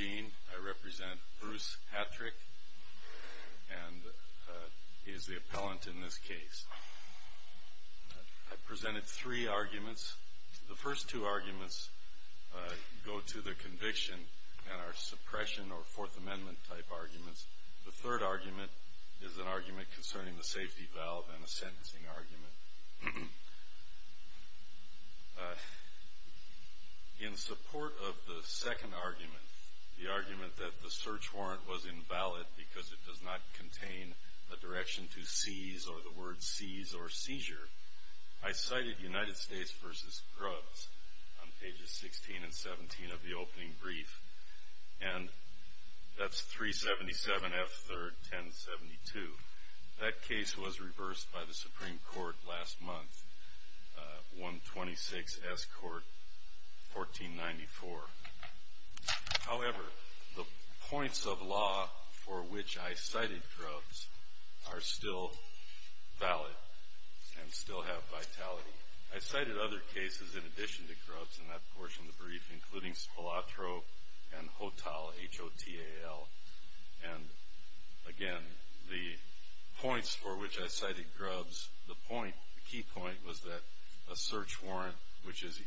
I represent Bruce Hattrick and he is the appellant in this case. I presented three arguments. The first two arguments go to the conviction and are suppression or Fourth Amendment type arguments. The third argument is an argument concerning the safety valve and a sentencing argument. In support of the second argument, the argument that the search warrant was invalid because it does not contain a direction to seize or the word seize or seizure, I cited United States v. Grubbs on pages 16 and 17 of the opening brief and that's 377 F. 3rd, 1072. That case was reversed by the Supreme Court last month, 126 S. Court, 1494. However, the points of law for which I cited Grubbs are still valid and still have vitality. I cited other cases in addition to Grubbs in that portion of the brief including Spolatro and Hotal, H-O-T-A-L. And again, the points for which I cited Grubbs, the key point was that a search warrant, which is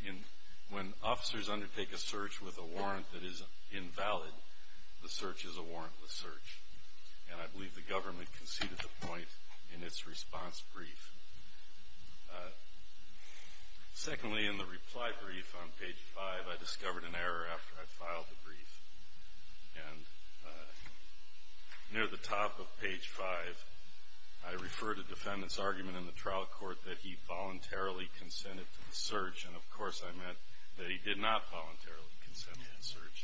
when officers undertake a search with a And I believe the government conceded the point in its response brief. Secondly, in the reply brief on page 5, I discovered an error after I filed the brief. And near the top of page 5, I referred a defendant's argument in the trial court that he voluntarily consented to the search and, of course, I meant that he did not voluntarily.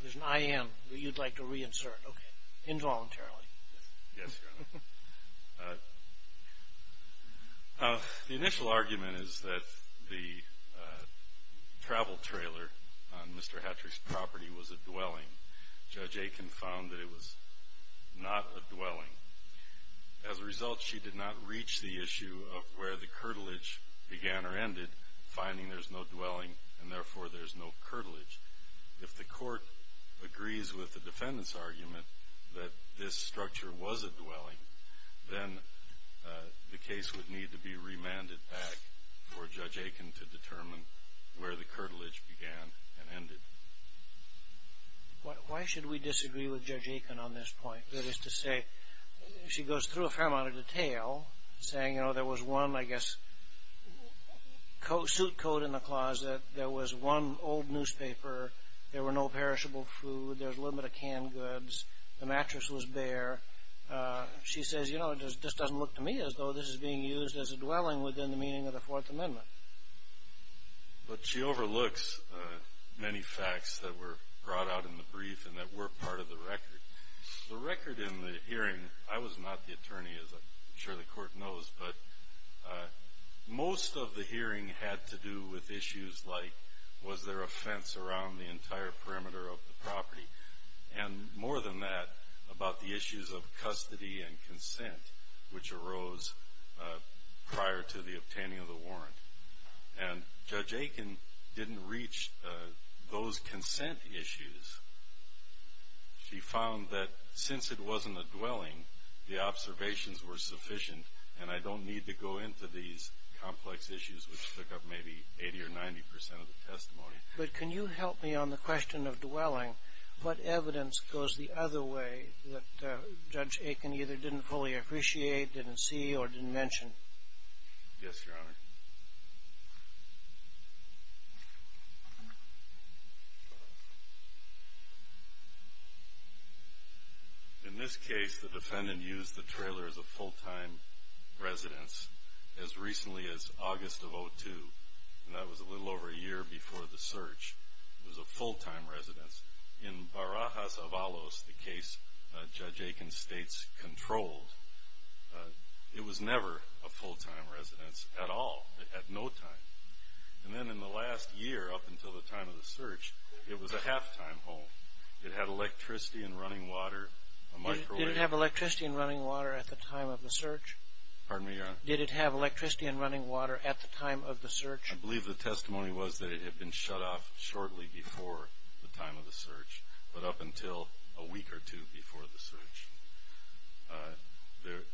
Yes, Your Honor. The initial argument is that the travel trailer on Mr. Hatcher's property was a dwelling. Judge Aiken found that it was not a dwelling. As a result, she did not reach the issue of where the curtilage began or ended, finding there's no dwelling and therefore there's no curtilage. If the court agrees with the this structure was a dwelling, then the case would need to be remanded back for Judge Aiken to determine where the curtilage began and ended. Why should we disagree with Judge Aiken on this point? That is to say, she goes through a fair amount of detail saying, you know, there was one, I guess, suit coat in the closet, there was one old newspaper, there were no She says, you know, this doesn't look to me as though this is being used as a dwelling within the meaning of the Fourth Amendment. But she overlooks many facts that were brought out in the brief and that were part of the record. The record in the hearing, I was not the attorney, as I'm sure the court knows, but most of the hearing had to do with issues like, was there a fence around the entire perimeter of the property? And more than that, about the issues of custody and consent, which arose prior to the obtaining of the warrant. And Judge Aiken didn't reach those consent issues. She found that since it wasn't a dwelling, the observations were sufficient and I don't need to go into these But can you help me on the question of dwelling? What evidence goes the other way that Judge Aiken either didn't fully appreciate, didn't see, or didn't mention? Yes, Your Honor. In this case, the defendant used the trailer as a full-time residence as recently as August of 2002. And that was a little over a year before the search. It was a full-time residence. In Barajas Avalos, the case Judge Aiken states controlled, it was never a full-time residence at all, at no time. And then in the last year, up until the time of the search, it was a half-time home. It had electricity and running water, a microwave. Did it have electricity and running water at the time of the search? Pardon me, Your Honor? Did it have electricity and running water at the time of the search? I believe the testimony was that it had been shut off shortly before the time of the search, but up until a week or two before the search.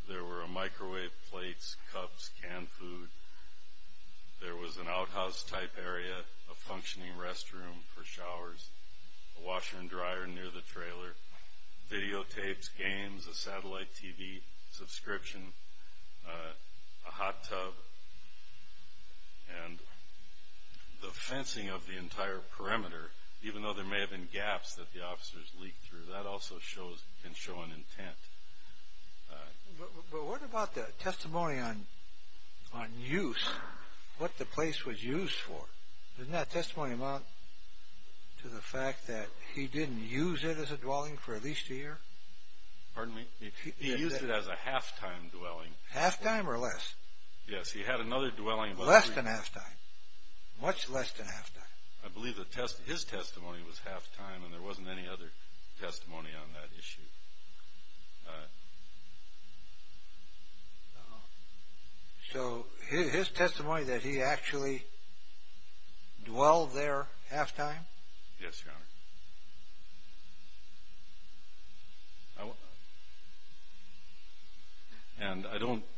There were microwave plates, cups, canned food. There was an outhouse-type area, a functioning restroom for showers, a washer and dryer near the trailer, videotapes, games, a satellite TV subscription, a hot tub, and the fencing of the entire perimeter, even though there may have been gaps that the officers leaked through, that also can show an intent. But what about the testimony on use, what the place was used for? Doesn't that testimony amount to the fact that he didn't use it as a dwelling for at least a year? Pardon me? He used it as a half-time dwelling. Half-time or less? Yes, he had another dwelling. Less than half-time, much less than half-time. I believe his testimony was half-time and there wasn't any other testimony on that issue. Uh-huh. So his testimony that he actually dwelled there half-time? Yes, Your Honor. And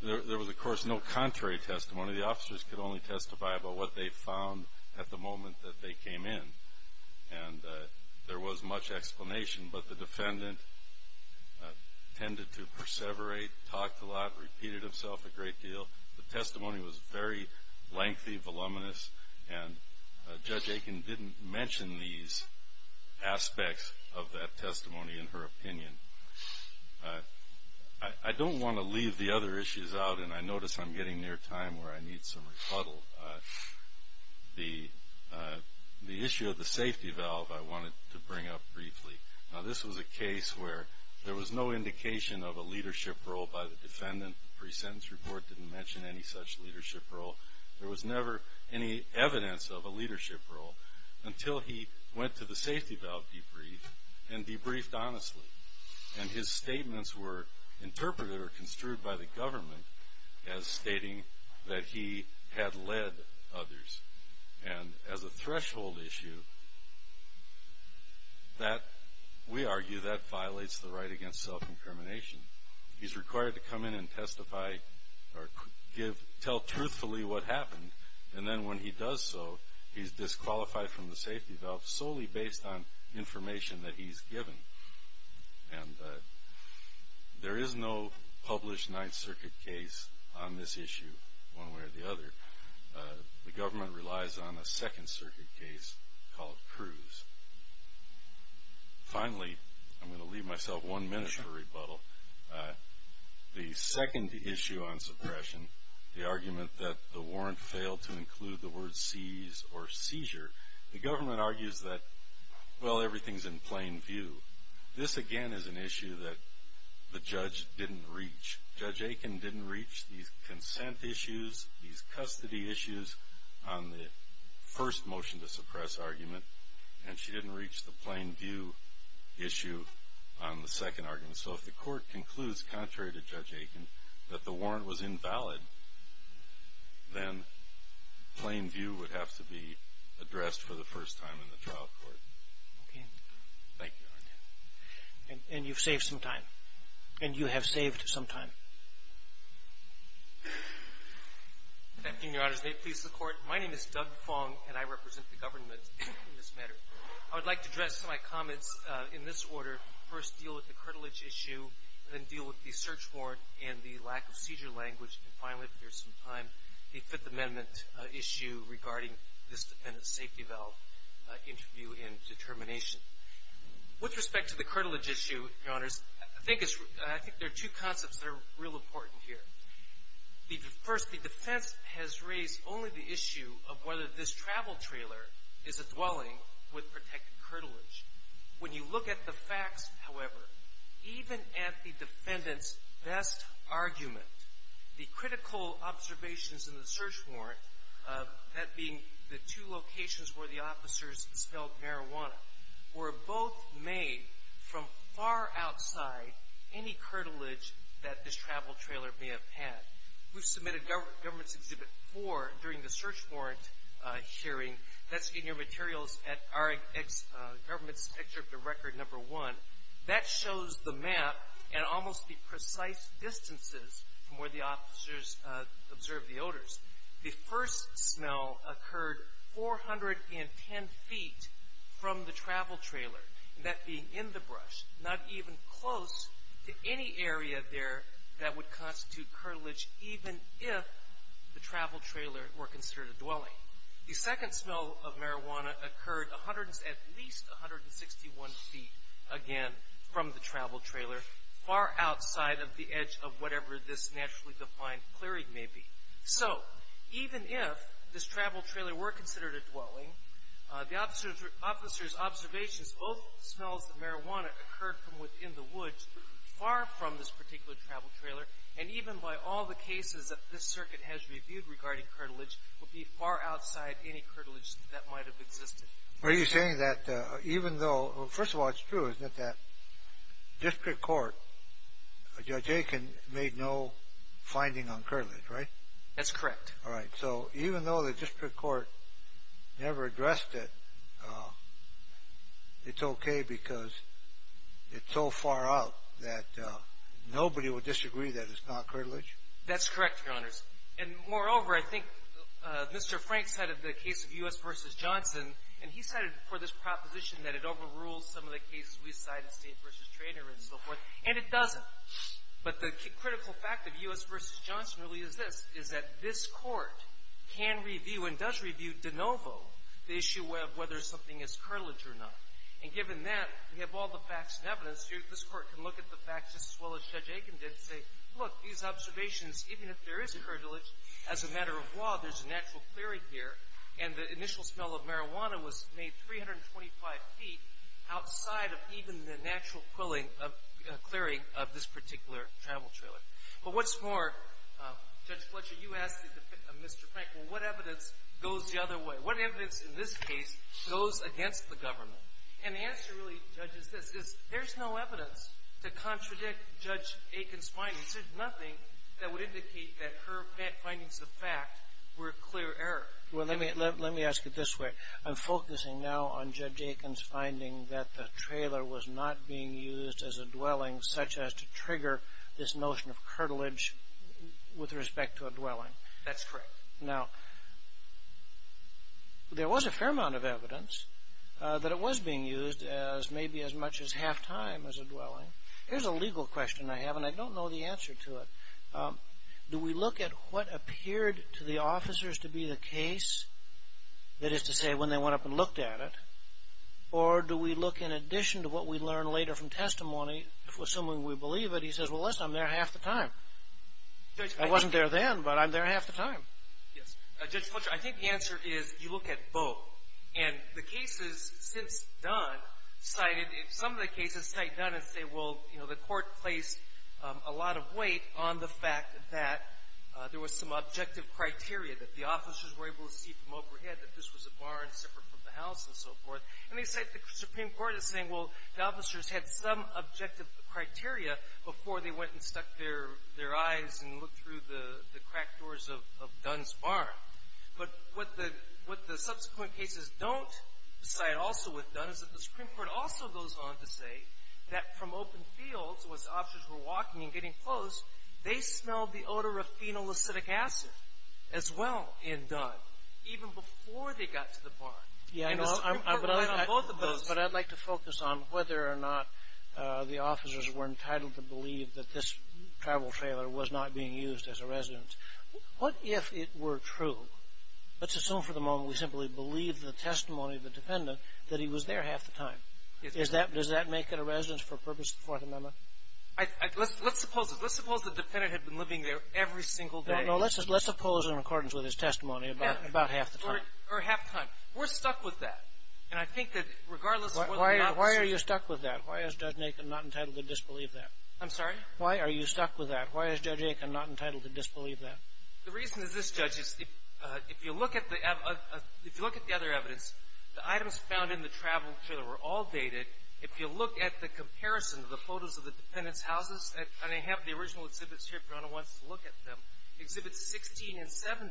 there was, of course, no contrary testimony. The officers could only testify about what they found at the moment that they came in, and there was much explanation, but the defendant tended to perseverate, talked a lot, repeated himself a great deal. The testimony was very lengthy, voluminous, and Judge Aiken didn't mention these aspects of that testimony in her opinion. I don't want to leave the other issues out, and I notice I'm getting near time where I need some rebuttal. The issue of the safety valve I wanted to bring up briefly. Now, this was a case where there was no indication of a leadership role by the defendant. The pre-sentence report didn't mention any such leadership role. There was never any evidence of a leadership role until he went to the safety valve debrief and debriefed honestly. And his statements were interpreted or construed by the government as stating that he had led others. And as a threshold issue, we argue that violates the right against self-incrimination. He's required to come in and testify or tell truthfully what happened, and then when he does so, he's disqualified from the safety valve solely based on information that he's given. And there is no published Ninth Circuit case on this issue one way or the other. The government relies on a Second Circuit case called Cruz. Finally, I'm going to leave myself one minute for rebuttal. The second issue on suppression, the argument that the warrant failed to include the word seize or seizure, the government argues that, well, everything's in plain view. This, again, is an issue that the judge didn't reach. Judge Aiken didn't reach these consent issues, these custody issues on the first motion to suppress argument, and she didn't reach the plain view issue on the second argument. So if the court concludes, contrary to Judge Aiken, that the warrant was invalid, then plain view would have to be addressed for the first time in the trial court. Thank you, Your Honor. And you've saved some time, and you have saved some time. Good afternoon, Your Honors. May it please the Court, my name is Doug Fong, and I represent the government in this matter. I would like to address my comments in this order, first deal with the curtilage issue, then deal with the search warrant and the lack of seizure language, and finally, if there's some time, the Fifth Amendment issue regarding this defendant's safety valve interview and determination. With respect to the curtilage issue, Your Honors, I think there are two concepts that are real important here. First, the defense has raised only the issue of whether this travel trailer is a dwelling with protected curtilage. When you look at the facts, however, even at the defendant's best argument, the critical observations in the search warrant, that being the two locations where the officers smelled marijuana, were both made from far outside any curtilage that this travel trailer may have had. We submitted Government's Exhibit 4 during the search warrant hearing. That's in your materials at our government's picture of the record number one. That shows the map and almost the precise distances from where the officers observed the odors. The first smell occurred 410 feet from the travel trailer. That being in the brush, not even close to any area there that would constitute curtilage, even if the travel trailer were considered a dwelling. The second smell of marijuana occurred at least 161 feet, again, from the travel trailer, far outside of the edge of whatever this naturally defined clearing may be. So, even if this travel trailer were considered a dwelling, the officers' observations, both smells of marijuana occurred from within the woods, far from this particular travel trailer, and even by all the cases that this circuit has reviewed regarding curtilage, would be far outside any curtilage that might have existed. Are you saying that even though, first of all, it's true, isn't it, that District Court, Judge Aiken, made no finding on curtilage, right? That's correct. All right. So, even though the District Court never addressed it, it's okay because it's so far out that nobody would disagree that it's not curtilage? That's correct, Your Honors. And, moreover, I think Mr. Frank cited the case of U.S. v. Johnson, and he cited for this proposition that it overrules some of the cases we cited, State v. Traynor and so forth, and it doesn't. But the critical fact of U.S. v. Johnson really is this, is that this Court can review and does review de novo the issue of whether something is curtilage or not. And given that, we have all the facts and evidence. This Court can look at the facts just as well as Judge Aiken did and say, look, these observations, even if there is curtilage, as a matter of law, there's a natural clearing here, and the initial smell of marijuana was made 325 feet outside of even the natural clearing of this particular travel trailer. But what's more, Judge Fletcher, you asked Mr. Frank, well, what evidence goes the other way? What evidence in this case goes against the government? And the answer really, Judge, is this, is there's no evidence to contradict Judge Aiken's findings. There's nothing that would indicate that her findings of fact were a clear error. Well, let me ask it this way. I'm focusing now on Judge Aiken's finding that the trailer was not being used as a dwelling, such as to trigger this notion of curtilage with respect to a dwelling. That's correct. Now, there was a fair amount of evidence that it was being used as maybe as much as half time as a dwelling. Here's a legal question I have, and I don't know the answer to it. Do we look at what appeared to the officers to be the case, that is to say, when they went up and looked at it, or do we look in addition to what we learn later from testimony, assuming we believe it, he says, well, listen, I'm there half the time. I wasn't there then, but I'm there half the time. Yes. Judge Fletcher, I think the answer is you look at both. And the cases since Dunn cited, some of the cases cite Dunn and say, well, you know, the Court placed a lot of weight on the fact that there was some objective criteria, that the officers were able to see from overhead that this was a barn separate from the house and so forth. And they cite the Supreme Court as saying, well, the officers had some objective criteria before they went and stuck their eyes and looked through the cracked doors of Dunn's barn. But what the subsequent cases don't cite also with Dunn is that the Supreme Court also goes on to say that from open fields, when the officers were walking and getting close, they smelled the odor of phenolacetic acid as well in Dunn, even before they got to the barn. And the Supreme Court went on both of those. But I'd like to focus on whether or not the officers were entitled to believe that this travel trailer was not being used as a residence. What if it were true? Let's assume for the moment we simply believe the testimony of the defendant that he was there half the time. Does that make it a residence for purpose of the Fourth Amendment? Let's suppose it. Let's suppose the defendant had been living there every single day. No, let's suppose in accordance with his testimony about half the time. Or half the time. We're stuck with that. And I think that regardless of whether or not the Supreme Court. Why are you stuck with that? Why is Judge Aitken not entitled to disbelieve that? I'm sorry? Why are you stuck with that? Why is Judge Aitken not entitled to disbelieve that? The reason is this, Judge. If you look at the other evidence, the items found in the travel trailer were all dated. If you look at the comparison of the photos of the defendant's houses, and I have the original exhibits here if your Honor wants to look at them, Exhibits 16 and 17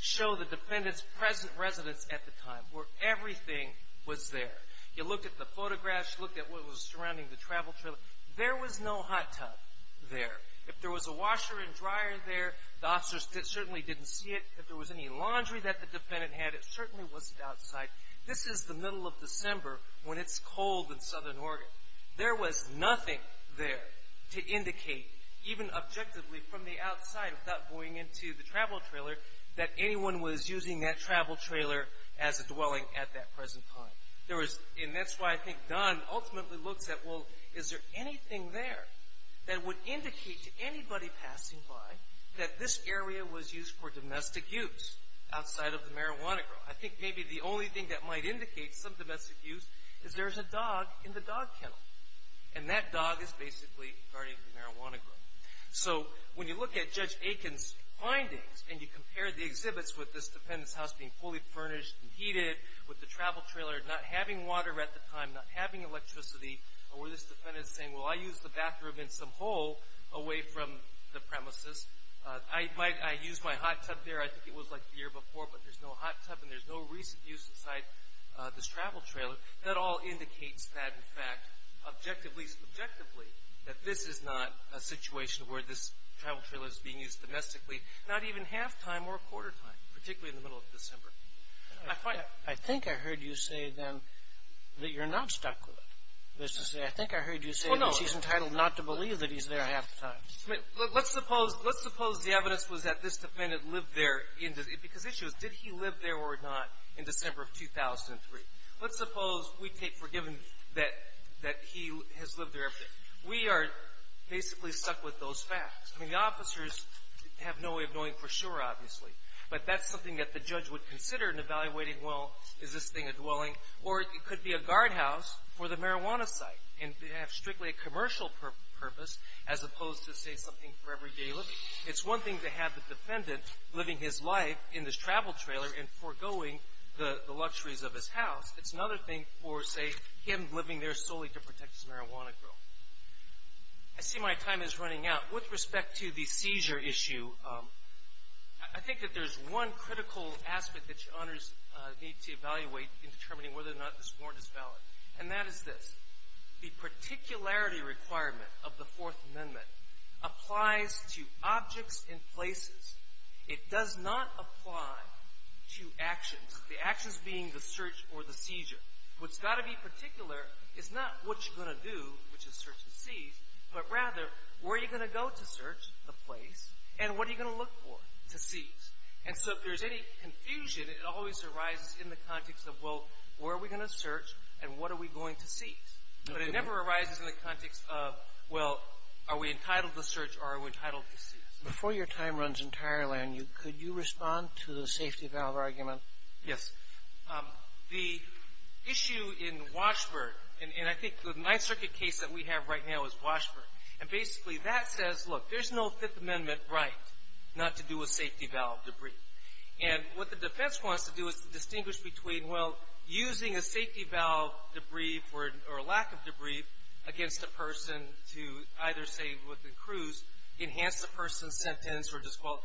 show the defendant's present residence at the time where everything was there. You looked at the photographs. You looked at what was surrounding the travel trailer. There was no hot tub there. If there was a washer and dryer there, the officers certainly didn't see it. If there was any laundry that the defendant had, it certainly wasn't outside. This is the middle of December when it's cold in Southern Oregon. There was nothing there to indicate, even objectively from the outside without going into the travel trailer, that anyone was using that travel trailer as a dwelling at that present time. And that's why I think Don ultimately looks at, well, is there anything there that would indicate to anybody passing by that this area was used for domestic use outside of the marijuana grove? I think maybe the only thing that might indicate some domestic use is there's a dog in the dog kennel. And that dog is basically guarding the marijuana grove. So when you look at Judge Aiken's findings and you compare the exhibits with this defendant's house being fully furnished and heated, with the travel trailer not having water at the time, not having electricity, or where this defendant is saying, well, I used the bathroom in some hole away from the premises. I used my hot tub there. I think it was like the year before, but there's no hot tub and there's no recent use inside this travel trailer. That all indicates that, in fact, objectively, subjectively, that this is not a situation where this travel trailer is being used domestically, not even half-time or quarter-time, particularly in the middle of December. I think I heard you say, then, that you're not stuck with it. I think I heard you say that she's entitled not to believe that he's there half-time. I mean, let's suppose the evidence was that this defendant lived there because the issue is, did he live there or not in December of 2003? Let's suppose we take for given that he has lived there every day. We are basically stuck with those facts. I mean, the officers have no way of knowing for sure, obviously, but that's something that the judge would consider in evaluating, well, is this thing a dwelling? Or it could be a guardhouse for the marijuana site. And they have strictly a commercial purpose as opposed to, say, something for everyday living. It's one thing to have the defendant living his life in this travel trailer and foregoing the luxuries of his house. It's another thing for, say, him living there solely to protect his marijuana growth. I see my time is running out. With respect to the seizure issue, I think that there's one critical aspect that your honors need to evaluate in determining whether or not this warrant is valid, and that is this. The particularity requirement of the Fourth Amendment applies to objects and places. It does not apply to actions, the actions being the search or the seizure. What's got to be particular is not what you're going to do, which is search and seize, but rather where are you going to go to search the place, and what are you going to look for to seize? And so if there's any confusion, it always arises in the context of, well, where are we going to search, and what are we going to seize? But it never arises in the context of, well, are we entitled to search or are we entitled to seize? Before your time runs entirely on you, could you respond to the safety valve argument? Yes. The issue in Washburn, and I think the Ninth Circuit case that we have right now is Washburn, and basically that says, look, there's no Fifth Amendment right not to do with safety valve debris. And what the defense wants to do is to distinguish between, well, using a safety valve debris or a lack of debris against a person to either, say, with the crews, enhance the person's sentence or disqualify,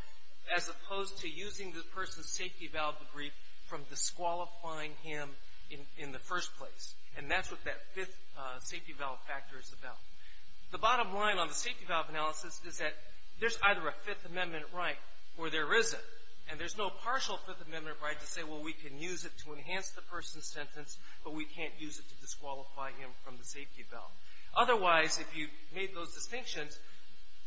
as opposed to using the person's safety valve debris from disqualifying him in the first place. And that's what that fifth safety valve factor is about. The bottom line on the safety valve analysis is that there's either a Fifth Amendment right or there isn't. And there's no partial Fifth Amendment right to say, well, we can use it to enhance the person's sentence, but we can't use it to disqualify him from the safety valve. Otherwise, if you made those distinctions,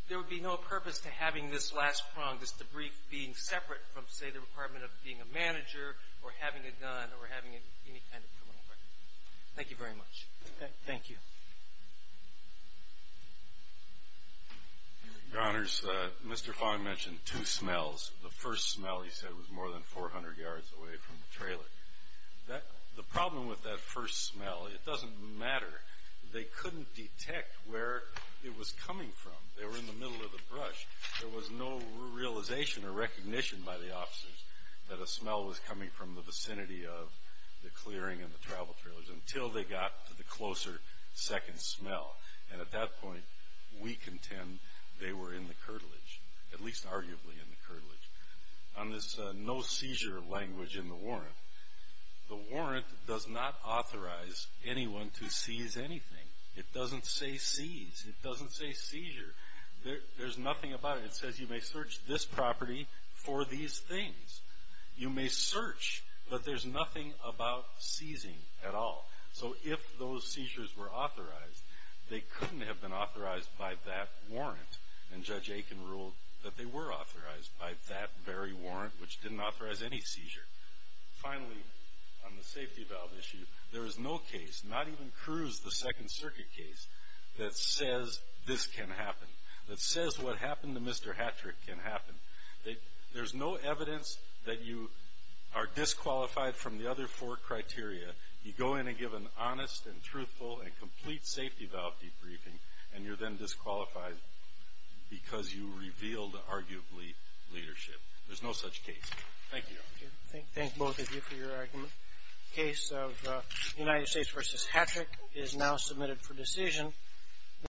there would be no purpose to having this last prong, this debris being separate from, say, the requirement of being a manager or having a gun or having any kind of criminal record. Thank you very much. Thank you. Your Honors, Mr. Fong mentioned two smells. The first smell, he said, was more than 400 yards away from the trailer. The problem with that first smell, it doesn't matter. They couldn't detect where it was coming from. They were in the middle of the brush. There was no realization or recognition by the officers that a smell was coming from the vicinity of the clearing and the travel trailers until they got to the closer second smell. And at that point, we contend they were in the curtilage, at least arguably in the curtilage. On this no seizure language in the warrant, the warrant does not authorize anyone to seize anything. It doesn't say seize. It doesn't say seizure. There's nothing about it. It says you may search this property for these things. You may search, but there's nothing about seizing at all. So if those seizures were authorized, they couldn't have been authorized by that warrant, and Judge Aiken ruled that they were authorized by that very warrant, which didn't authorize any seizure. Finally, on the safety valve issue, there is no case, not even Cruz, the Second Circuit case, that says this can happen, that says what happened to Mr. Hattrick can happen. There's no evidence that you are disqualified from the other four criteria. You go in and give an honest and truthful and complete safety valve debriefing, and you're then disqualified because you revealed, arguably, leadership. There's no such case. Thank you. Thank both of you for your argument. The case of United States v. Hattrick is now submitted for decision.